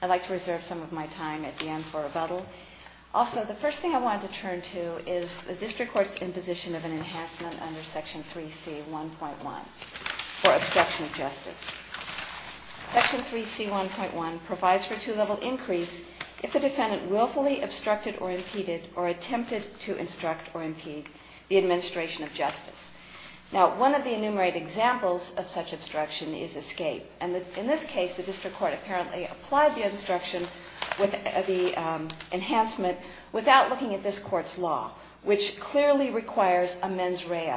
I'd like to reserve some of my time at the end for rebuttal. Also, the first thing I want to turn to is the District Court's imposition of an enhancement under Section 3C.1.1 for obstruction of justice. Section 3C.1.1 provides for a two-level increase if the defendant willfully obstructed or impeded or attempted to instruct or impede the administration of justice. Now, one of the enumerated examples of such obstruction is escape. And in this case, the District Court apparently applied the instruction with the enhancement without looking at this Court's law, which clearly requires a mens rea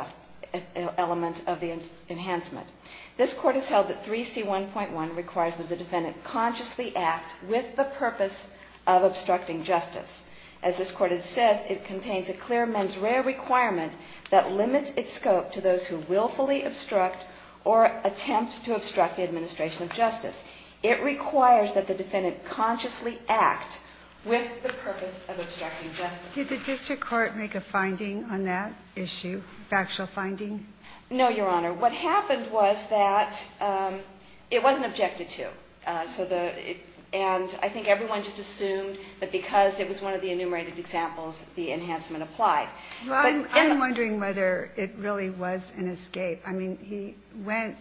element of the enhancement. This Court has held that 3C.1.1 requires that the defendant consciously act with the purpose of obstructing justice. As this Court has said, it contains a clear mens rea requirement that limits its scope to those who willfully obstruct or attempt to obstruct the administration of justice. It requires that the defendant consciously act with the purpose of obstructing justice. Ginsburg. Did the District Court make a finding on that issue, factual finding? No, Your Honor. What happened was that it wasn't objected to. And I think everyone just assumed that because it was one of the enumerated examples, the enhancement applied. Well, I'm wondering whether it really was an escape. I mean, he went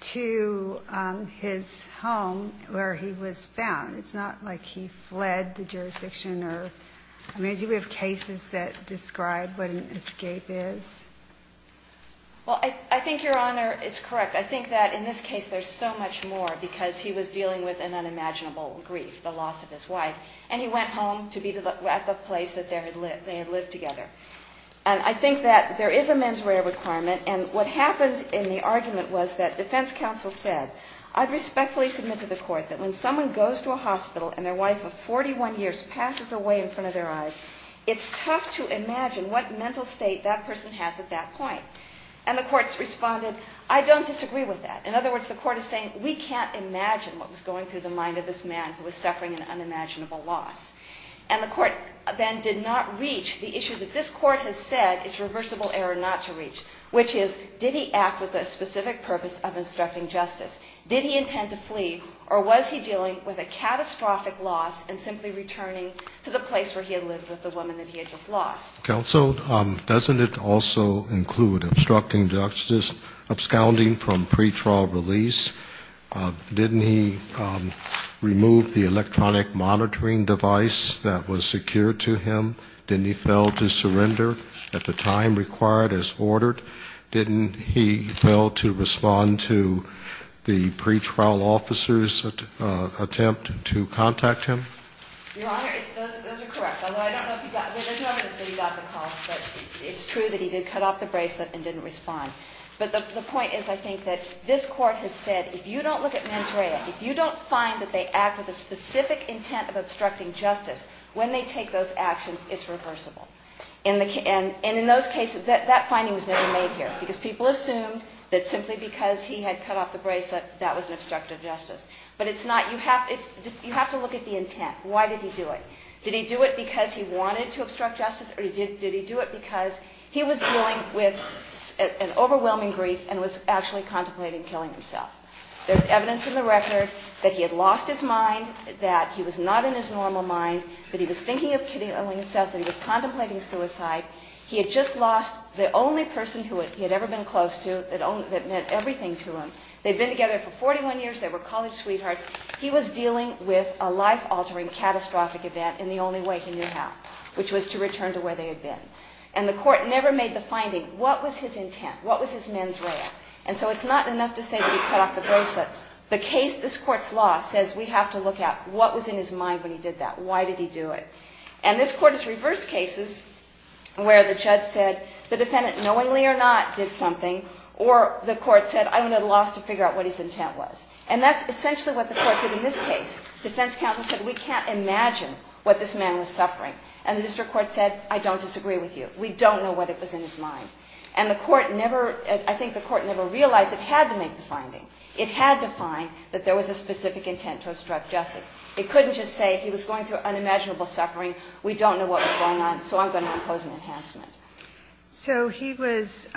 to his home where he was found. It's not like he fled the jurisdiction. I mean, do we have cases that describe what an escape is? Well, I think, Your Honor, it's correct. I think that in this case there's so much more because he was dealing with an unimaginable grief, the loss of his wife. And he went home to be at the place that they had lived together. And I think that there is a mens rea requirement. And what happened in the argument was that defense counsel said, I respectfully submit to the Court that when someone goes to a hospital and their wife of 41 years passes away in front of their eyes, it's tough to imagine what mental state that person has at that point. And the courts responded, I don't disagree with that. In other words, the Court is saying we can't imagine what was going through the mind of this man who was suffering an unimaginable loss. And the Court then did not reach the issue that this Court has said is reversible error not to reach, which is, did he act with a specific purpose of instructing leave, or was he dealing with a catastrophic loss and simply returning to the place where he had lived with the woman that he had just lost? Counsel, doesn't it also include obstructing justice, absconding from pretrial release? Didn't he remove the electronic monitoring device that was secured to him? Didn't he fail to surrender at the time required as ordered? Didn't he fail to respond to the pretrial officer's attempt to contact him? Your Honor, those are correct. Although, I don't know if you got, there's no evidence that he got the call, but it's true that he did cut off the bracelet and didn't respond. But the point is, I think, that this Court has said if you don't look at mens rea, if you don't find that they act with a specific intent of obstructing justice, when they take those actions, it's reversible. And in those cases, that finding was never made here, because people assumed that simply because he had cut off the bracelet, that was an obstruct of justice. But it's not. You have to look at the intent. Why did he do it? Did he do it because he wanted to obstruct justice, or did he do it because he was dealing with an overwhelming grief and was actually contemplating killing himself? There's evidence in the record that he had lost his mind, that he was not in his normal mind, that he was thinking of killing himself, that he was contemplating suicide. He had just lost the only person he had ever been close to that meant everything to him. They had been together for 41 years. They were college sweethearts. He was dealing with a life-altering catastrophic event in the only way he knew how, which was to return to where they had been. And the Court never made the finding. What was his intent? What was his mens rea? And so it's not enough to say that he cut off the bracelet. The case, this Court's law, says we have to look at what was in his mind when he did that. Why did he do it? And this Court has reversed cases where the judge said, the defendant knowingly or not did something, or the Court said, I only lost to figure out what his intent was. And that's essentially what the Court did in this case. Defense counsel said, we can't imagine what this man was suffering. And the district court said, I don't disagree with you. We don't know what it was in his mind. And the Court never, I think the Court never realized it had to make the finding. It had to find that there was a specific intent to obstruct justice. It couldn't just say he was going through unimaginable suffering. We don't know what was going on, so I'm going to impose an enhancement. So he was,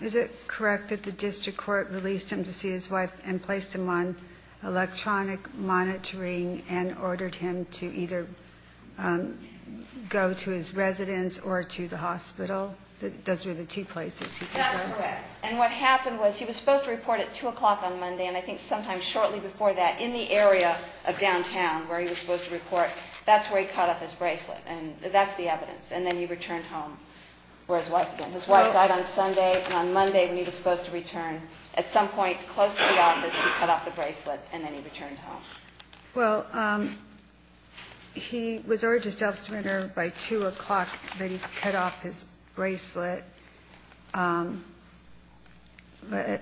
is it correct that the district court released him to see his wife and placed him on electronic monitoring and ordered him to either go to his residence or to the hospital? Those were the two places he was? That's correct. And what happened was he was supposed to report at 2 o'clock on where he was supposed to report. That's where he cut off his bracelet. And that's the evidence. And then he returned home, where his wife had been. His wife died on Sunday, and on Monday when he was supposed to return, at some point close to the office, he cut off the bracelet, and then he returned home. Well, he was ordered to self-surrender by 2 o'clock when he cut off his bracelet at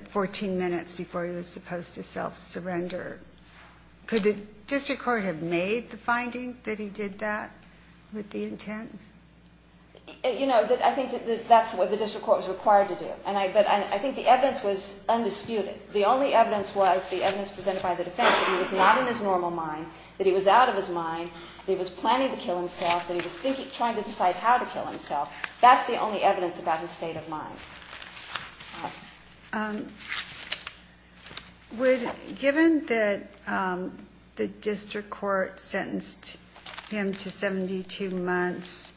14 minutes before he was supposed to self-surrender. Could the district court have made the finding that he did that with the intent? You know, I think that's what the district court was required to do. But I think the evidence was undisputed. The only evidence was the evidence presented by the defense that he was not in his normal mind, that he was out of his mind, that he was planning to kill himself, that he was trying to decide how to kill himself. That's the only evidence about his state of mind. Given that the district court sentenced him to 72 months,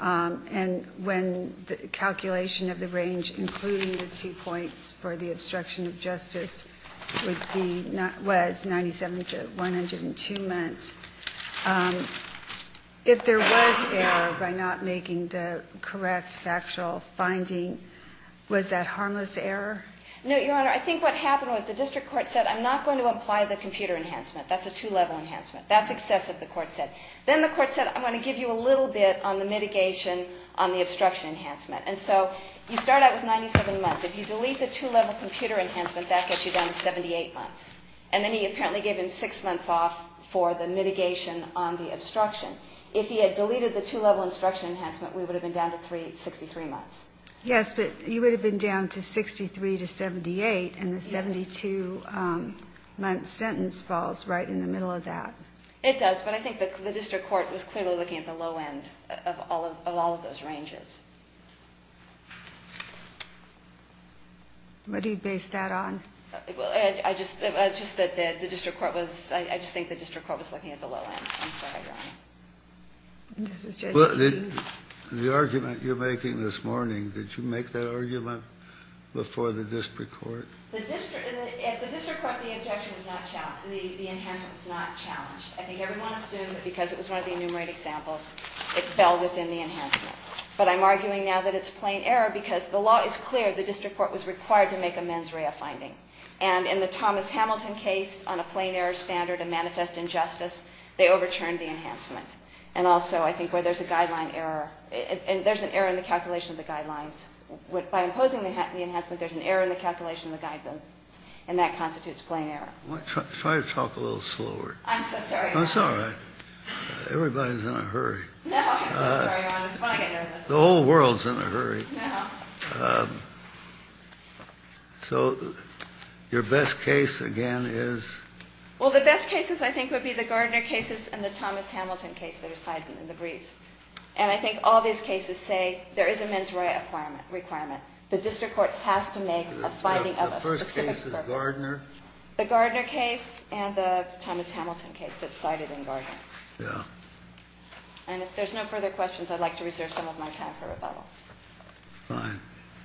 and when the calculation of the range, including the two points for the obstruction of justice, was 97 to 102 months, if there was error by not making the correct factual finding, was that harmless error? No, Your Honor. I think what happened was the district court said, I'm not going to apply the computer enhancement. That's a two-level enhancement. That's excessive, the court said. Then the court said, I'm going to give you a little bit on the mitigation on the obstruction enhancement. And so you start out with 97 months. If you delete the two-level computer enhancement, that gets you down to 78 months. And then he apparently gave him six months off for the mitigation on the obstruction. If he had deleted the two-level obstruction enhancement, we would have been down to 63 months. Yes, but you would have been down to 63 to 78, and the 72-month sentence falls right in the middle of that. It does, but I think the district court was clearly looking at the low end of all of those ranges. What do you base that on? I just think the district court was looking at the low end. I'm sorry, Your Honor. The argument you're making this morning, did you make that argument before the district court? At the district court, the objection was not challenged. The enhancement was not challenged. I think everyone assumed that because it was one of the enumerated examples, it fell within the enhancement. But I'm arguing now that it's plain error because the law is clear. The district court was required to make a mens rea finding. And in the Thomas Hamilton case, on a plain error standard, a manifest injustice, they overturned the enhancement. And also I think where there's a guideline error, and there's an error in the calculation of the guidelines. By imposing the enhancement, there's an error in the calculation of the guidelines, and that constitutes plain error. Try to talk a little slower. I'm so sorry, Your Honor. It's all right. Everybody's in a hurry. No, I'm so sorry, Your Honor. It's funny. The whole world's in a hurry. No. So your best case, again, is? Well, the best cases, I think, would be the Gardner cases and the Thomas Hamilton case that are cited in the briefs. And I think all these cases say there is a mens rea requirement. The district court has to make a finding of a specific purpose. The first case is Gardner? The Gardner case and the Thomas Hamilton case that's cited in Gardner. Yeah. And if there's no further questions, I'd like to reserve some of my time for rebuttal. Fine.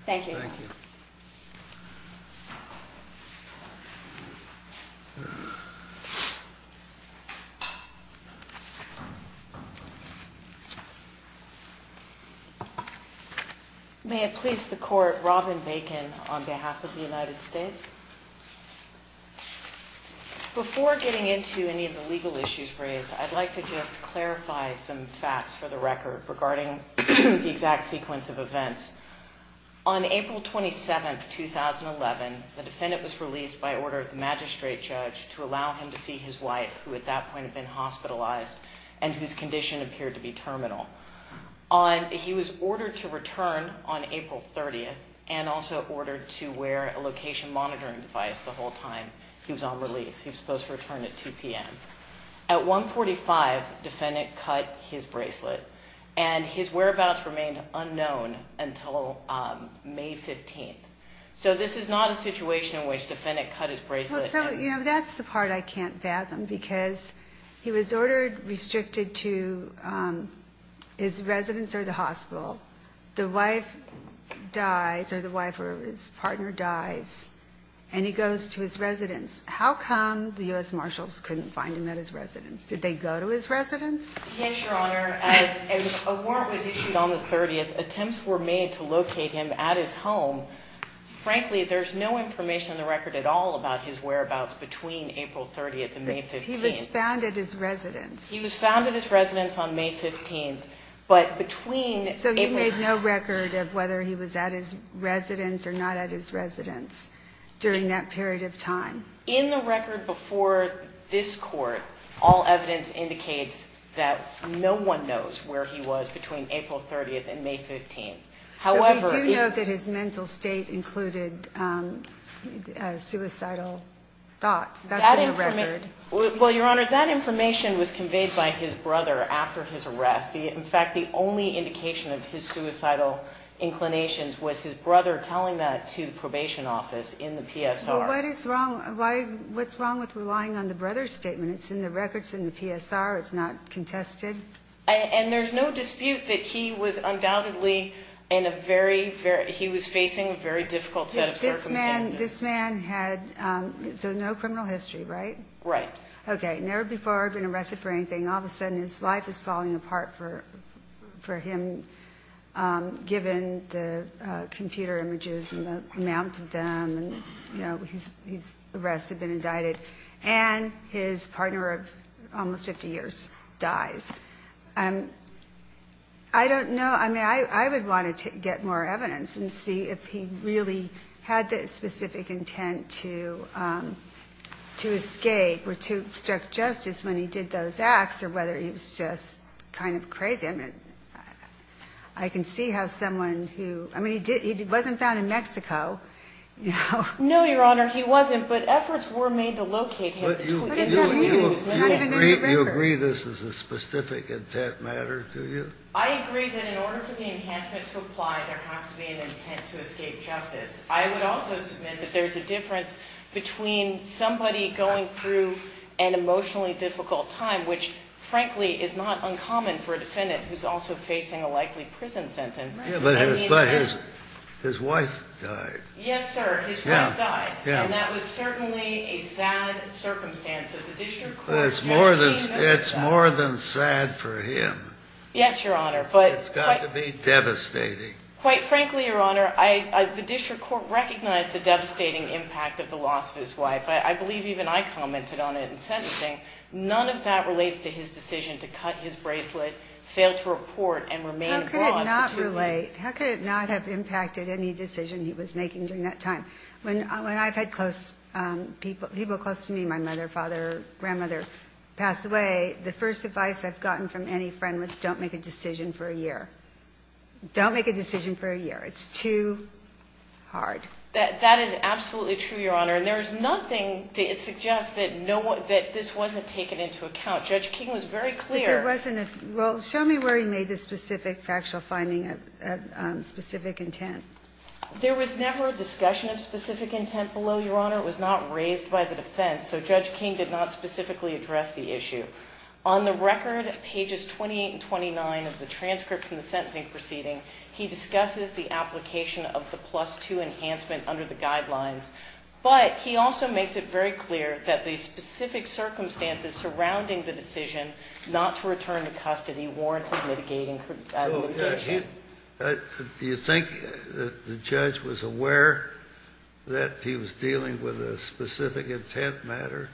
Thank you, Your Honor. Thank you. Thank you. May it please the court, Robin Bacon on behalf of the United States. Before getting into any of the legal issues raised, I'd like to just clarify some facts for the record regarding the exact sequence of events. On April 27th, 2011, the defendant was released by order of the magistrate judge to allow him to see his wife, who at that point had been hospitalized and whose condition appeared to be terminal. He was ordered to return on April 30th and also ordered to wear a location monitoring device the whole time he was on release. He was supposed to return at 2 p.m. At 1.45, defendant cut his bracelet and his whereabouts remained unknown until May 15th. So this is not a situation in which defendant cut his bracelet and Well, so, you know, that's the part I can't fathom because he was ordered restricted to his residence or the hospital. The wife dies or the wife or his partner dies and he goes to his residence. How come the U.S. Marshals couldn't find him at his residence? Did they go to his residence? Yes, Your Honor. A warrant was issued on the 30th. Attempts were made to locate him at his home. Frankly, there's no information in the record at all about his whereabouts between April 30th and May 15th. He was found at his residence. He was found at his residence on May 15th. But between So you made no record of whether he was at his residence or not at his In the record before this court, all evidence indicates that no one knows where he was between April 30th and May 15th. However, But we do know that his mental state included suicidal thoughts. That's in the record. Well, Your Honor, that information was conveyed by his brother after his arrest. In fact, the only indication of his suicidal inclinations was his brother telling that to the probation office in the PSR. Well, what's wrong with relying on the brother's statement? It's in the record. It's in the PSR. It's not contested. And there's no dispute that he was undoubtedly in a very, very He was facing a very difficult set of circumstances. This man had So no criminal history, right? Right. Okay. Never before had he been arrested for anything. All of a sudden, his life is falling apart for him, given the computer images and the amount of them. And, you know, he's he's the rest have been indicted. And his partner of almost 50 years dies. And I don't know. I mean, I would want to get more evidence and see if he really had the specific intent to to escape or to obstruct justice when he did those acts or whether he was just kind of crazy. I mean, I can see how someone who I mean, he did. He wasn't found in Mexico. No, Your Honor. He wasn't. But efforts were made to locate him. You agree. This is a specific intent matter to you. I agree that in order for the enhancement to apply, there has to be an intent to escape justice. I would also submit that there is a difference between somebody going through an emotionally difficult time, which, frankly, is not uncommon for a defendant who's also facing a likely prison sentence. But his wife died. Yes, sir. His wife died. And that was certainly a sad circumstance. It's more than it's more than sad for him. Yes, Your Honor. But it's got to be devastating. Quite frankly, Your Honor, I the district court recognized the devastating impact of the loss of his wife. I believe even I commented on it in sentencing. None of that relates to his decision to cut his bracelet, failed to report and remain abroad. How could it not relate? How could it not have impacted any decision he was making during that time? When I've had close people close to me, my mother, father, grandmother, passed away, the first advice I've gotten from any friend was don't make a decision for a year. Don't make a decision for a year. It's too hard. That is absolutely true, Your Honor. And there is nothing that suggests that this wasn't taken into account. Judge King was very clear. Well, show me where he made the specific factual finding of specific intent. There was never a discussion of specific intent below, Your Honor. It was not raised by the defense. So Judge King did not specifically address the issue. On the record, pages 28 and 29 of the transcript from the sentencing proceeding, he discusses the application of the plus 2 enhancement under the guidelines. But he also makes it very clear that the specific circumstances surrounding the decision not to return to custody warranted mitigation. Do you think the judge was aware that he was dealing with a specific intent matter?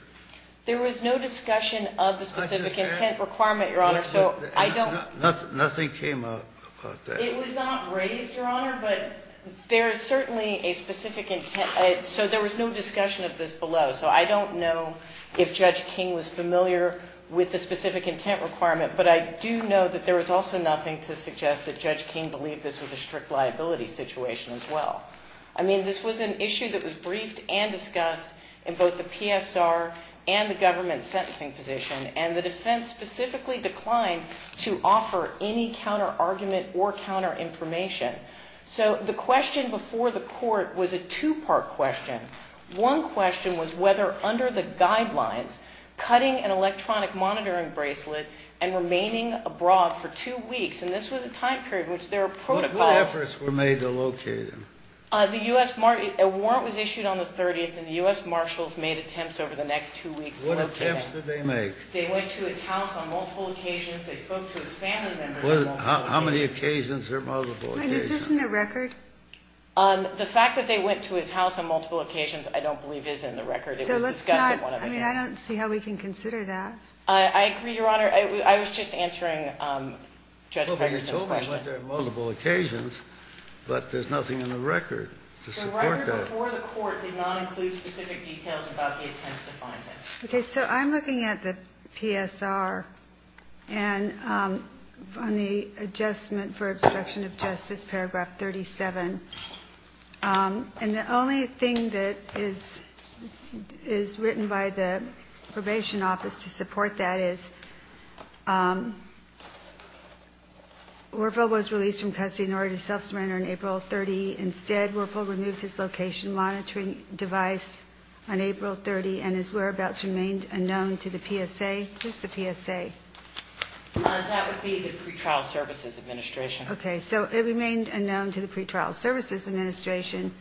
There was no discussion of the specific intent requirement, Your Honor, so I don't Nothing came up about that. It was not raised, Your Honor, but there is certainly a specific intent. So there was no discussion of this below. So I don't know if Judge King was familiar with the specific intent requirement, but I do know that there was also nothing to suggest that Judge King believed this was a strict liability situation as well. I mean, this was an issue that was briefed and discussed in both the PSR and the government sentencing position, and the defense specifically declined to offer any counterargument or counterinformation. So the question before the court was a two-part question. One question was whether under the guidelines, cutting an electronic monitoring bracelet and remaining abroad for two weeks, and this was a time period in which there are protocols. What efforts were made to locate him? A warrant was issued on the 30th, and the U.S. Marshals made attempts over the next two weeks to locate him. What attempts did they make? They went to his house on multiple occasions. They spoke to his family members on multiple occasions. How many occasions are multiple occasions? Is this in the record? The fact that they went to his house on multiple occasions I don't believe is in the record. It was discussed at one of the hearings. I mean, I don't see how we can consider that. I agree, Your Honor. I was just answering Judge Peterson's question. Well, they were told they went there on multiple occasions, but there's nothing in the record to support that. The record before the court did not include specific details about the attempts to find him. Okay. So I'm looking at the PSR and on the adjustment for obstruction of justice, paragraph 37. And the only thing that is written by the probation office to support that is Wuerffel was released from custody in order to self-surrender on April 30. Instead, Wuerffel removed his location monitoring device on April 30, and his whereabouts remained unknown to the PSA. Who's the PSA? That would be the Pretrial Services Administration. Okay. So it remained unknown to the Pretrial Services Administration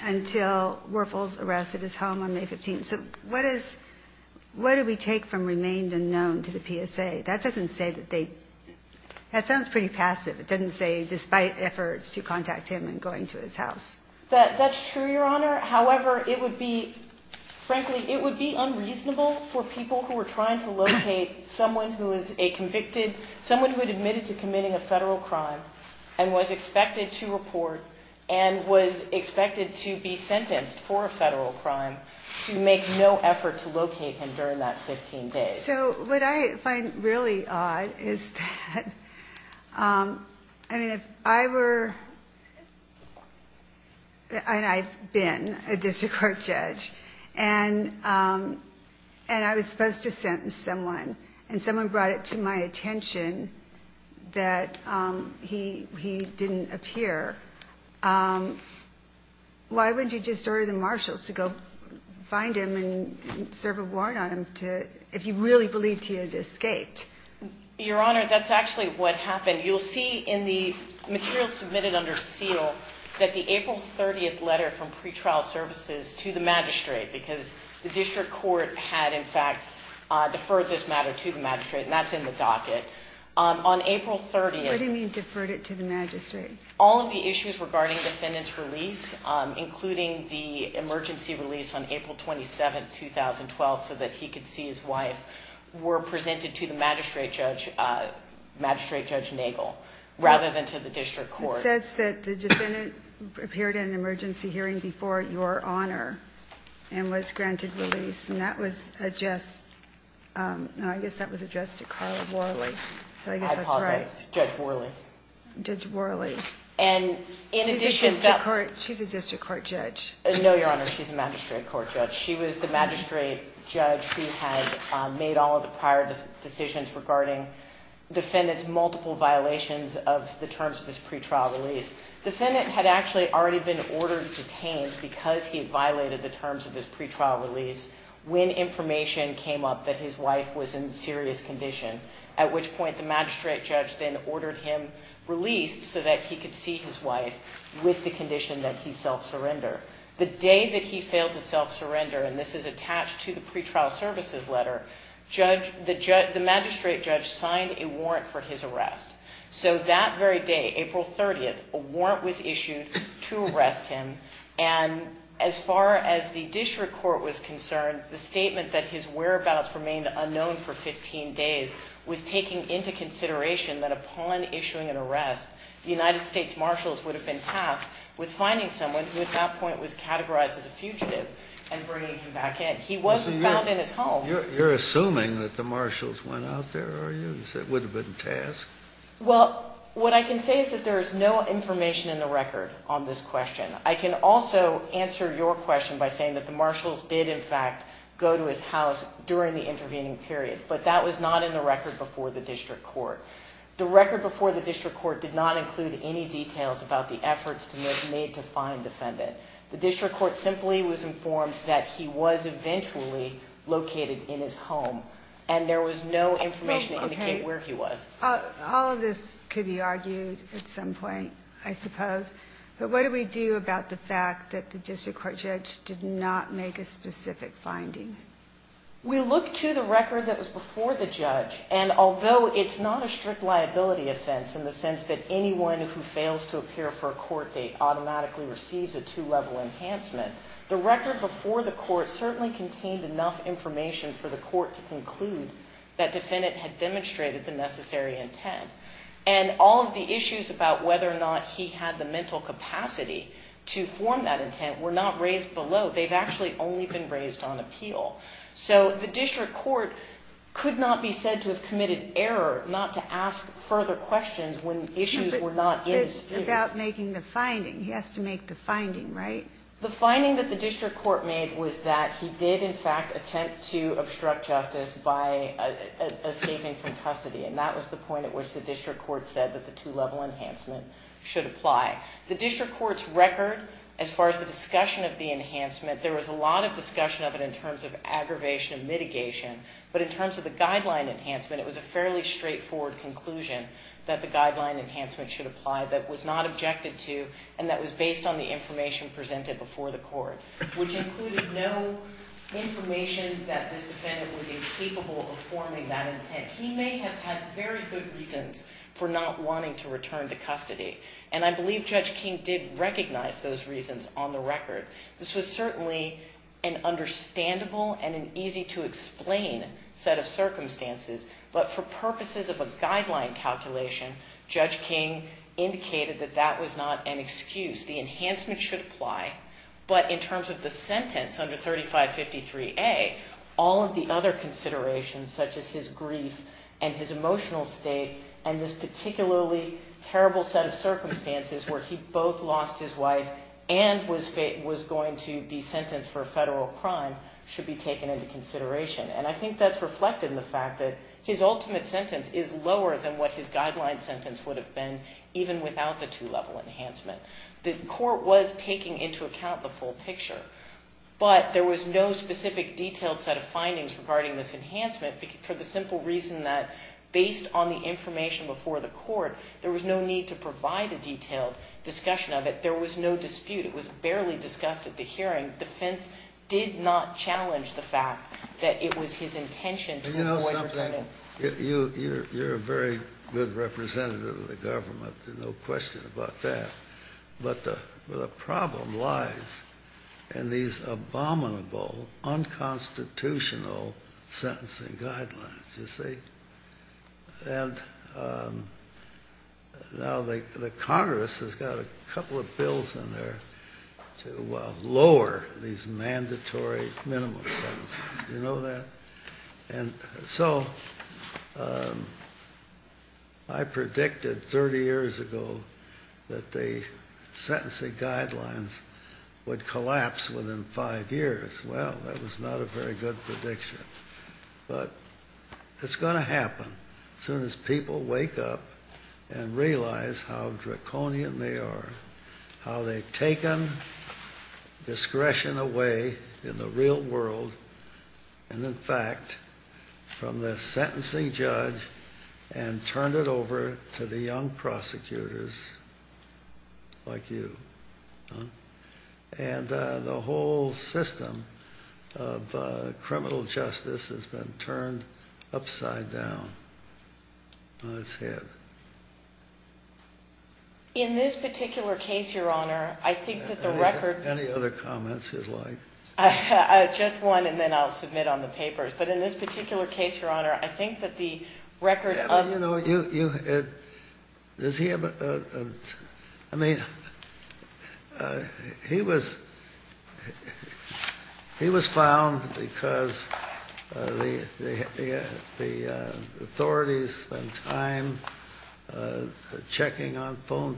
until Wuerffel was arrested at his home on May 15. So what do we take from remained unknown to the PSA? That doesn't say that they – that sounds pretty passive. It doesn't say despite efforts to contact him and going to his house. That's true, Your Honor. However, it would be – frankly, it would be unreasonable for people who were trying to locate someone who is a convicted – someone who had admitted to a federal crime and was expected to report and was expected to be sentenced for a federal crime to make no effort to locate him during that 15 days. So what I find really odd is that, I mean, if I were – and I've been a district court judge, and I was supposed to sentence someone, and someone brought it to my attention that he didn't appear, why wouldn't you just order the marshals to go find him and serve a warrant on him to – if you really believed he had escaped? Your Honor, that's actually what happened. You'll see in the material submitted under seal that the April 30th letter from Pretrial Services to the magistrate, because the district court had, in fact, deferred this matter to the magistrate, and that's in the docket. On April 30th – What do you mean, deferred it to the magistrate? All of the issues regarding the defendant's release, including the emergency release on April 27th, 2012, so that he could see his wife, were presented to the magistrate judge, Magistrate Judge Nagel, rather than to the district court. It says that the defendant appeared in an emergency hearing before Your Honor and was granted release, and that was addressed – no, I guess that was addressed to Carla Worley, so I guess that's right. I apologize. Judge Worley. Judge Worley. And in addition to – She's a district court judge. No, Your Honor, she's a magistrate court judge. She was the magistrate judge who had made all of the prior decisions regarding defendant's multiple violations of the terms of his pretrial release. Defendant had actually already been ordered detained because he violated the terms of his pretrial release when information came up that his wife was in serious condition, at which point the magistrate judge then ordered him released so that he could see his wife with the condition that he self-surrender. The day that he failed to self-surrender – and this is attached to the pretrial services letter – the magistrate judge signed a warrant for his arrest. So that very day, April 30th, a warrant was issued to arrest him. And as far as the district court was concerned, the statement that his whereabouts remained unknown for 15 days was taking into consideration that upon issuing an arrest, the United States marshals would have been tasked with finding someone who at that point was categorized as a fugitive and bringing him back in. He wasn't found in his home. You're assuming that the marshals went out there, are you? Well, what I can say is that there is no information in the record on this question. I can also answer your question by saying that the marshals did, in fact, go to his house during the intervening period, but that was not in the record before the district court. The record before the district court did not include any details about the efforts made to find the defendant. The district court simply was informed that he was eventually located in his home, and there was no information to indicate where he was. All of this could be argued at some point, I suppose. But what do we do about the fact that the district court judge did not make a specific finding? We look to the record that was before the judge, and although it's not a strict liability offense in the sense that anyone who fails to appear for a court date certainly contained enough information for the court to conclude that the defendant had demonstrated the necessary intent. And all of the issues about whether or not he had the mental capacity to form that intent were not raised below. They've actually only been raised on appeal. So the district court could not be said to have committed error not to ask further questions when issues were not in dispute. It's about making the finding. He has to make the finding, right? The finding that the district court made was that he did, in fact, attempt to obstruct justice by escaping from custody, and that was the point at which the district court said that the two-level enhancement should apply. The district court's record, as far as the discussion of the enhancement, there was a lot of discussion of it in terms of aggravation and mitigation. But in terms of the guideline enhancement, it was a fairly straightforward conclusion that the guideline enhancement should apply that was not objected to and that was based on the information presented before the court, which included no information that this defendant was incapable of forming that intent. He may have had very good reasons for not wanting to return to custody, and I believe Judge King did recognize those reasons on the record. This was certainly an understandable and an easy-to-explain set of circumstances, but for purposes of a guideline calculation, Judge King indicated that that was not an excuse. The enhancement should apply, but in terms of the sentence under 3553A, all of the other considerations, such as his grief and his emotional state and this particularly terrible set of circumstances where he both lost his wife and was going to be sentenced for a federal crime, should be taken into consideration. And I think that's reflected in the fact that his ultimate sentence is lower than what his guideline sentence would have been, even without the two-level enhancement. The court was taking into account the full picture, but there was no specific detailed set of findings regarding this enhancement for the simple reason that based on the information before the court, there was no need to provide a detailed discussion of it. There was no dispute. It was barely discussed at the hearing. The defense did not challenge the fact that it was his intention to avoid returning. You're a very good representative of the government. There's no question about that. But the problem lies in these abominable, unconstitutional sentencing guidelines, you see. And now the Congress has got a couple of bills in there to lower these mandatory minimum sentences. Do you know that? So I predicted 30 years ago that the sentencing guidelines would collapse within five years. Well, that was not a very good prediction. But it's going to happen as soon as people wake up and realize how draconian they are, how they've taken discretion away in the real world and, in fact, from the sentencing judge and turned it over to the young prosecutors like you. And the whole system of criminal justice has been turned upside down on its head. In this particular case, Your Honor, I think that the record... Any other comments you'd like? Just one, and then I'll submit on the papers. But in this particular case, Your Honor, I think that the record of... You know, does he have a... I mean, he was found because the authorities spent time checking on phone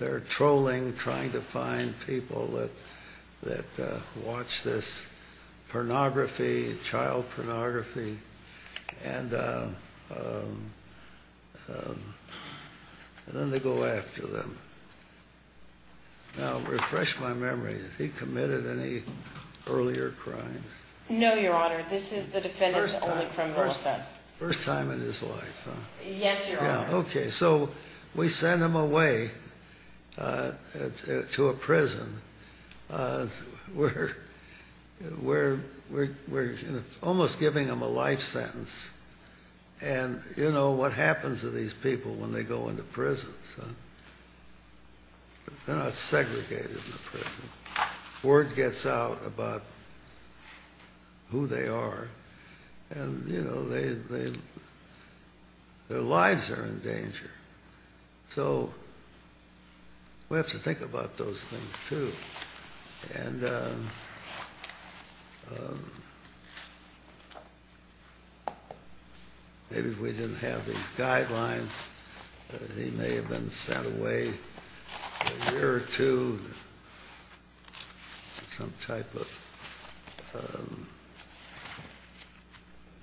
They're trolling, trying to find people that watch this pornography, child pornography. And then they go after them. Now, refresh my memory. Has he committed any earlier crimes? No, Your Honor. This is the defendant's only criminal offense. First time in his life, huh? Yes, Your Honor. Okay, so we send him away to a prison. We're almost giving him a life sentence. And, you know, what happens to these people when they go into prison? They're not segregated in a prison. Word gets out about who they are. And, you know, their lives are in danger. So we have to think about those things, too. And maybe if we didn't have these guidelines, he may have been sent away for a year or two to some type of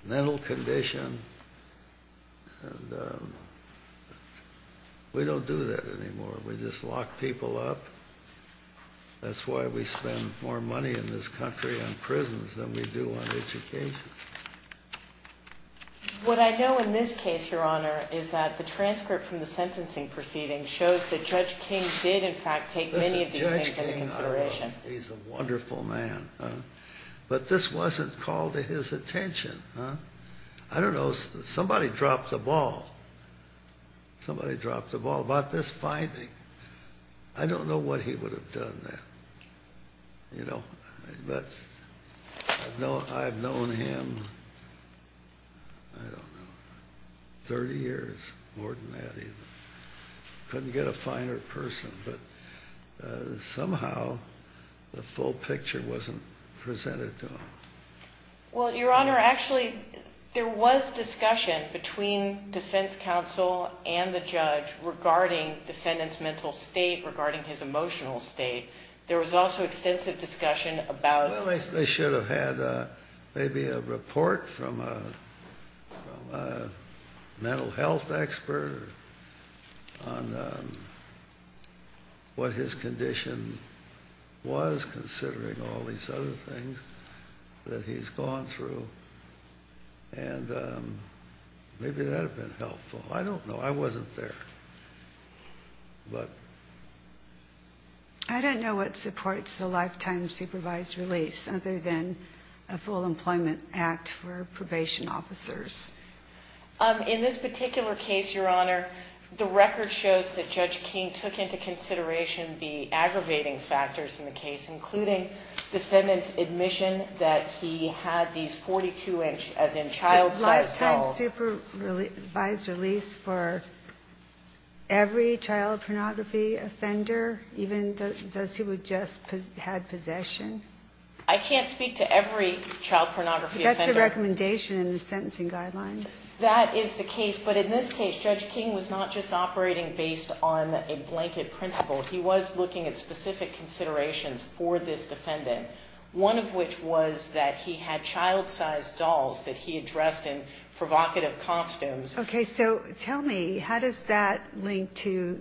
mental condition. And we don't do that anymore. We just lock people up. That's why we spend more money in this country on prisons than we do on education. What I know in this case, Your Honor, is that the transcript from the sentencing proceeding shows that Judge King did, in fact, take many of these things into consideration. Judge King, he's a wonderful man. But this wasn't called to his attention. I don't know. Somebody dropped the ball. Somebody dropped the ball about this finding. I don't know what he would have done then. But I've known him, I don't know, 30 years, more than that even. Couldn't get a finer person. But somehow the full picture wasn't presented to him. Well, Your Honor, actually there was discussion between defense counsel and the judge regarding defendant's mental state, regarding his emotional state. There was also extensive discussion about his condition. Well, they should have had maybe a report from a mental health expert on what his condition was, considering all these other things that he's gone through. And maybe that would have been helpful. I don't know. I wasn't there. I don't know what supports the lifetime supervised release other than a full employment act for probation officers. In this particular case, Your Honor, the record shows that Judge King took into consideration the aggravating factors in the case, including defendant's admission that he had these 42-inch, as in child-sized towels. Lifetime supervised release for every child pornography offender, even those who just had possession? I can't speak to every child pornography offender. That's the recommendation in the sentencing guidelines. That is the case. But in this case, Judge King was not just operating based on a blanket principle. He was looking at specific considerations for this defendant, one of which was that he had child-sized dolls that he had dressed in provocative costumes. Okay. So tell me, how does that link to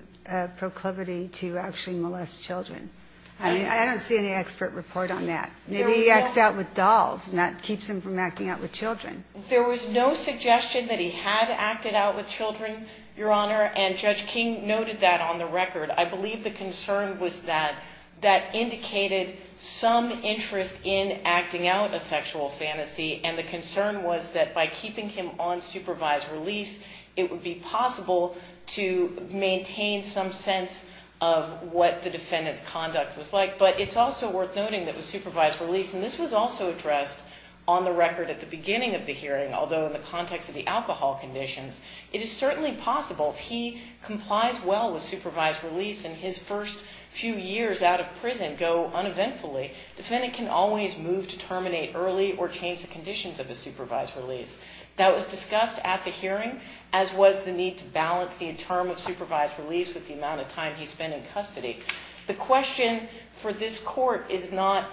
proclivity to actually molest children? I don't see any expert report on that. Maybe he acts out with dolls, and that keeps him from acting out with children. There was no suggestion that he had acted out with children, Your Honor, and Judge King noted that on the record. I believe the concern was that that indicated some interest in acting out a sexual fantasy, and the concern was that by keeping him on supervised release, it would be possible to maintain some sense of what the defendant's conduct was like. But it's also worth noting that with supervised release, and this was also addressed on the record at the beginning of the hearing, although in the context of the alcohol conditions, it is certainly possible. If he complies well with supervised release and his first few years out of prison go uneventfully, the defendant can always move to terminate early or change the conditions of his supervised release. That was discussed at the hearing, as was the need to balance the term of supervised release with the amount of time he spent in custody. The question for this court is not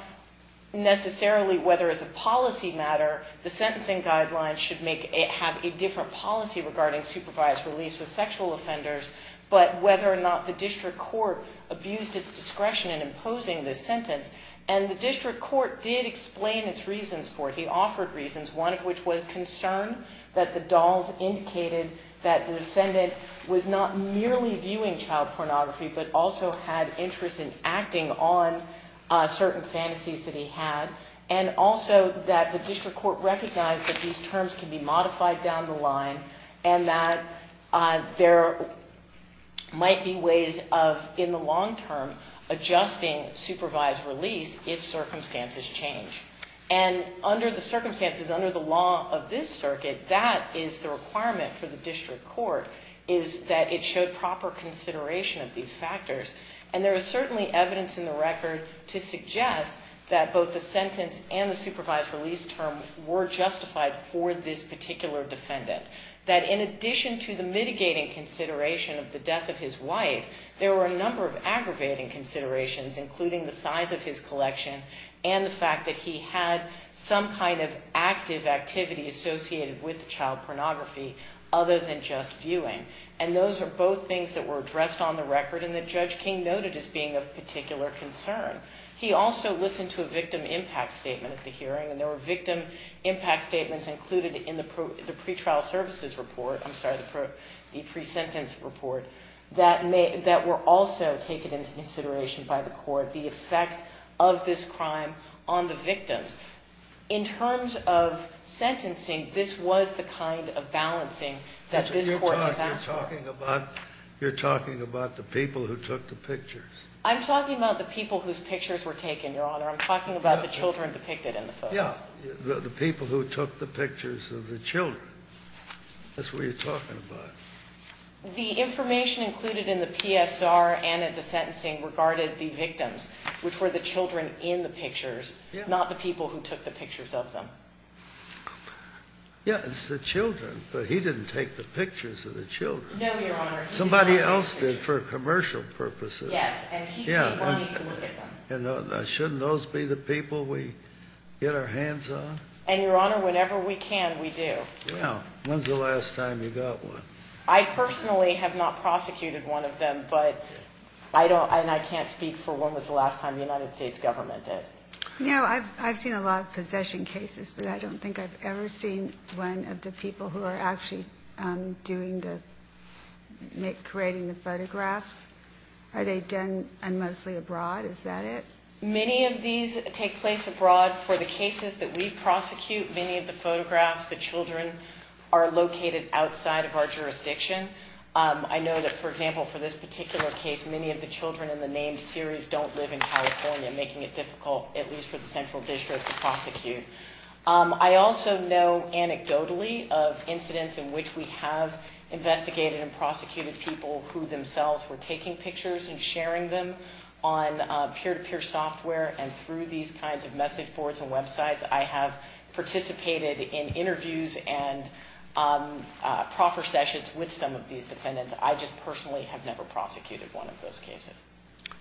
necessarily whether as a policy matter, the sentencing guidelines should have a different policy regarding supervised release with sexual offenders, but whether or not the district court abused its discretion in imposing this sentence, and the district court did explain its reasons for it. He offered reasons, one of which was concern that the dolls indicated that the defendant was not merely viewing child pornography but also had interest in acting on certain fantasies that he had, and also that the district court recognized that these terms can be modified down the line and that there might be ways of in the long term adjusting supervised release if circumstances change. And under the circumstances, under the law of this circuit, that is the requirement for the district court is that it showed proper consideration of these factors. And there is certainly evidence in the record to suggest that both the sentence and the supervised release term were justified for this particular defendant. That in addition to the mitigating consideration of the death of his wife, there were a number of aggravating considerations, including the size of his collection and the fact that he had some kind of active activity associated with child pornography other than just viewing. And those are both things that were addressed on the record and that Judge King noted as being of particular concern. He also listened to a victim impact statement at the hearing, and there were victim impact statements included in the pretrial services report, I'm sorry, the pre-sentence report that were also taken into consideration by the court, the effect of this crime on the victims. In terms of sentencing, this was the kind of balancing that this Court has asked for. You're talking about the people who took the pictures. I'm talking about the people whose pictures were taken, Your Honor. I'm talking about the children depicted in the photos. Yes, the people who took the pictures of the children. That's what you're talking about. The information included in the PSR and in the sentencing regarded the victims, which were the children in the pictures, not the people who took the pictures of them. Yes, the children. But he didn't take the pictures of the children. No, Your Honor. Somebody else did for commercial purposes. Yes, and he didn't want me to look at them. And shouldn't those be the people we get our hands on? And, Your Honor, whenever we can, we do. Well, when's the last time you got one? I personally have not prosecuted one of them, and I can't speak for when was the last time the United States government did. No, I've seen a lot of possession cases, but I don't think I've ever seen one of the people who are actually creating the photographs. Are they done mostly abroad? Is that it? Many of these take place abroad. For the cases that we prosecute, many of the photographs, the children are located outside of our jurisdiction. I know that, for example, for this particular case, many of the children in the named series don't live in California, making it difficult, at least for the central district, to prosecute. I also know anecdotally of incidents in which we have investigated and prosecuted people who themselves were taking pictures and sharing them on peer-to-peer software, and through these kinds of message boards and websites, I have participated in interviews and proffer sessions with some of these defendants. I just personally have never prosecuted one of those cases.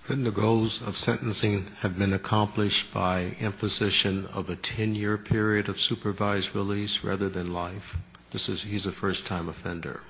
Couldn't the goals of sentencing have been accomplished by imposition of a 10-year period of supervised release rather than life? He's a first-time offender.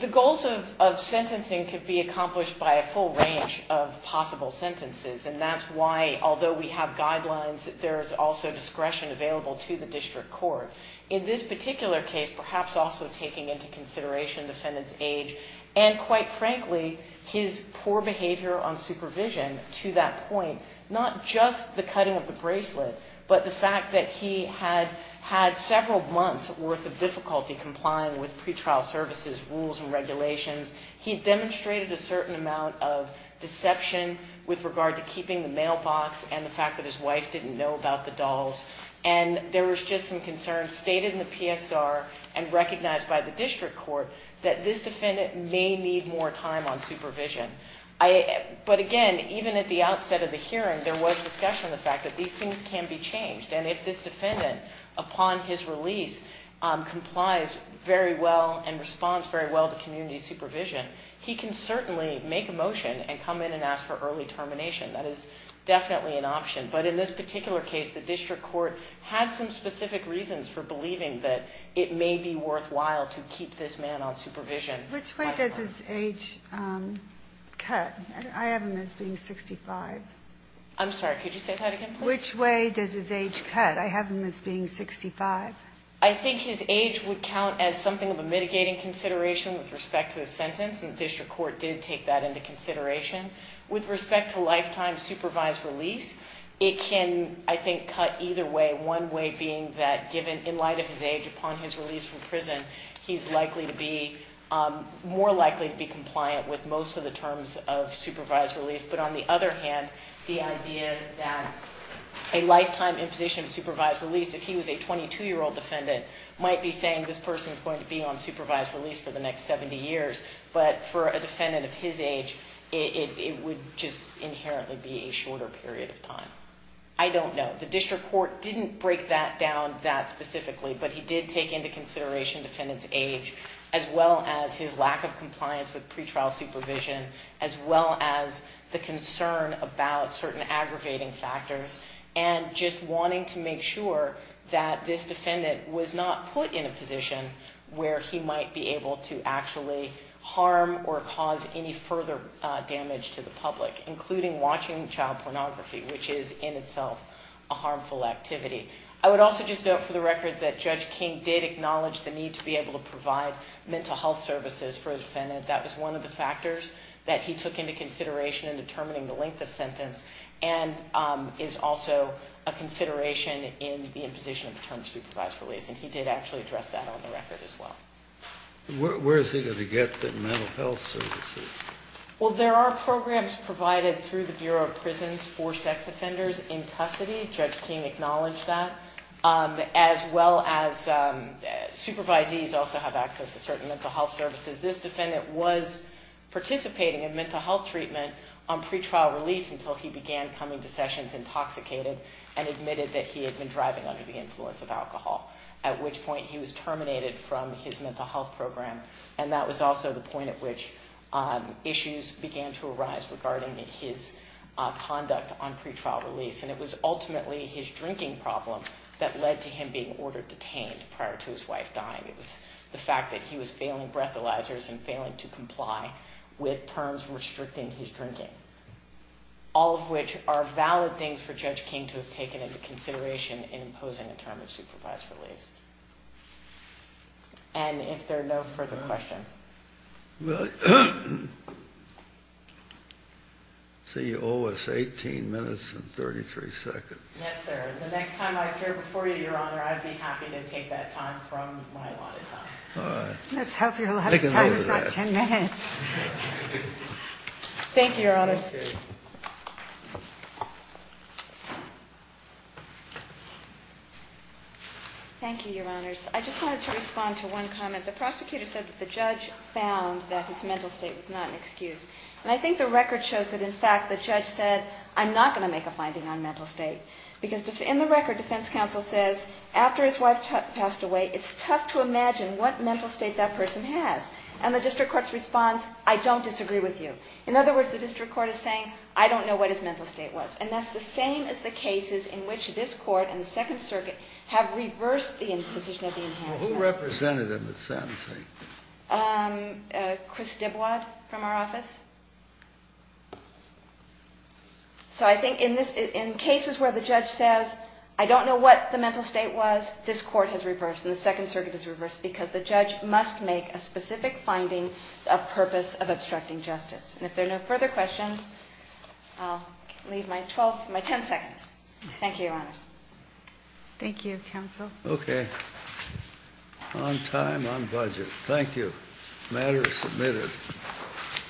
The goals of sentencing could be accomplished by a full range of possible sentences, and that's why, although we have guidelines, there is also discretion available to the district court. In this particular case, perhaps also taking into consideration the defendant's age and, quite frankly, his poor behavior on supervision to that point, not just the cutting of the bracelet, but the fact that he had had several months' worth of difficulty complying with pretrial services rules and regulations. He demonstrated a certain amount of deception with regard to keeping the mailbox and the fact that his wife didn't know about the dolls, and there was just some concern stated in the PSR and recognized by the district court that this defendant may need more time on supervision. But again, even at the outset of the hearing, there was discussion of the fact that these things can be changed, and if this defendant, upon his release, complies very well and responds very well to community supervision, he can certainly make a motion and come in and ask for early termination. That is definitely an option. But in this particular case, the district court had some specific reasons for believing that it may be worthwhile to keep this man on supervision. Which way does his age cut? I have him as being 65. I'm sorry, could you say that again, please? Which way does his age cut? I have him as being 65. I think his age would count as something of a mitigating consideration with respect to his sentence, and the district court did take that into consideration. With respect to lifetime supervised release, it can, I think, cut either way, one way being that given, in light of his age, upon his release from prison, he's likely to be more likely to be compliant with most of the terms of supervised release. But on the other hand, the idea that a lifetime imposition of supervised release, if he was a 22-year-old defendant, might be saying this person is going to be on supervised release for the next 70 years. But for a defendant of his age, it would just inherently be a shorter period of time. I don't know. The district court didn't break that down that specifically, but he did take into consideration defendant's age, as well as his lack of compliance with pretrial supervision, as well as the concern about certain aggravating factors, and just wanting to make sure that this defendant was not put in a position where he might be able to actually harm or cause any further damage to the public, including watching child pornography, which is in itself a harmful activity. I would also just note for the record that Judge King did acknowledge the need to be able to provide mental health services for the defendant. That was one of the factors that he took into consideration in determining the length of sentence and is also a consideration in the imposition of the term supervised release, and he did actually address that on the record as well. Where is he going to get the mental health services? Well, there are programs provided through the Bureau of Prisons for sex offenders in custody. Judge King acknowledged that, as well as supervisees also have access to certain mental health services. This defendant was participating in mental health treatment on pretrial release until he began coming to sessions intoxicated and admitted that he had been driving under the influence of alcohol, at which point he was terminated from his mental health program, and that was also the point at which issues began to arise regarding his conduct on pretrial release, and it was ultimately his drinking problem that led to him being ordered detained prior to his wife dying. It was the fact that he was failing breathalyzers and failing to comply with terms restricting his drinking, all of which are valid things for Judge King to have taken into consideration in imposing a term of supervised release. And if there are no further questions. Well, CEO is 18 minutes and 33 seconds. Yes, sir. The next time I appear before you, Your Honor, I'd be happy to take that time from my allotted time. All right. Let's hope you'll have the time of 10 minutes. Thank you, Your Honors. Thank you, Your Honors. I just wanted to respond to one comment. The prosecutor said that the judge found that his mental state was not an excuse, and I think the record shows that, in fact, the judge said, I'm not going to make a finding on mental state. Because in the record, defense counsel says, after his wife passed away, it's tough to imagine what mental state that person has. And the district court's response, I don't disagree with you. In other words, the district court is saying, I don't know what his mental state was. And that's the same as the cases in which this Court and the Second Circuit have reversed the imposition of the enhanced sentence. Well, who represented him at sentencing? Chris Dibwad from our office. So I think in cases where the judge says, I don't know what the mental state was, this Court has reversed and the Second Circuit has reversed because the judge must make a specific finding of purpose of obstructing justice. And if there are no further questions, I'll leave my 10 seconds. Thank you, Your Honors. Thank you, counsel. Okay. On time, on budget. Thank you. Matter is submitted.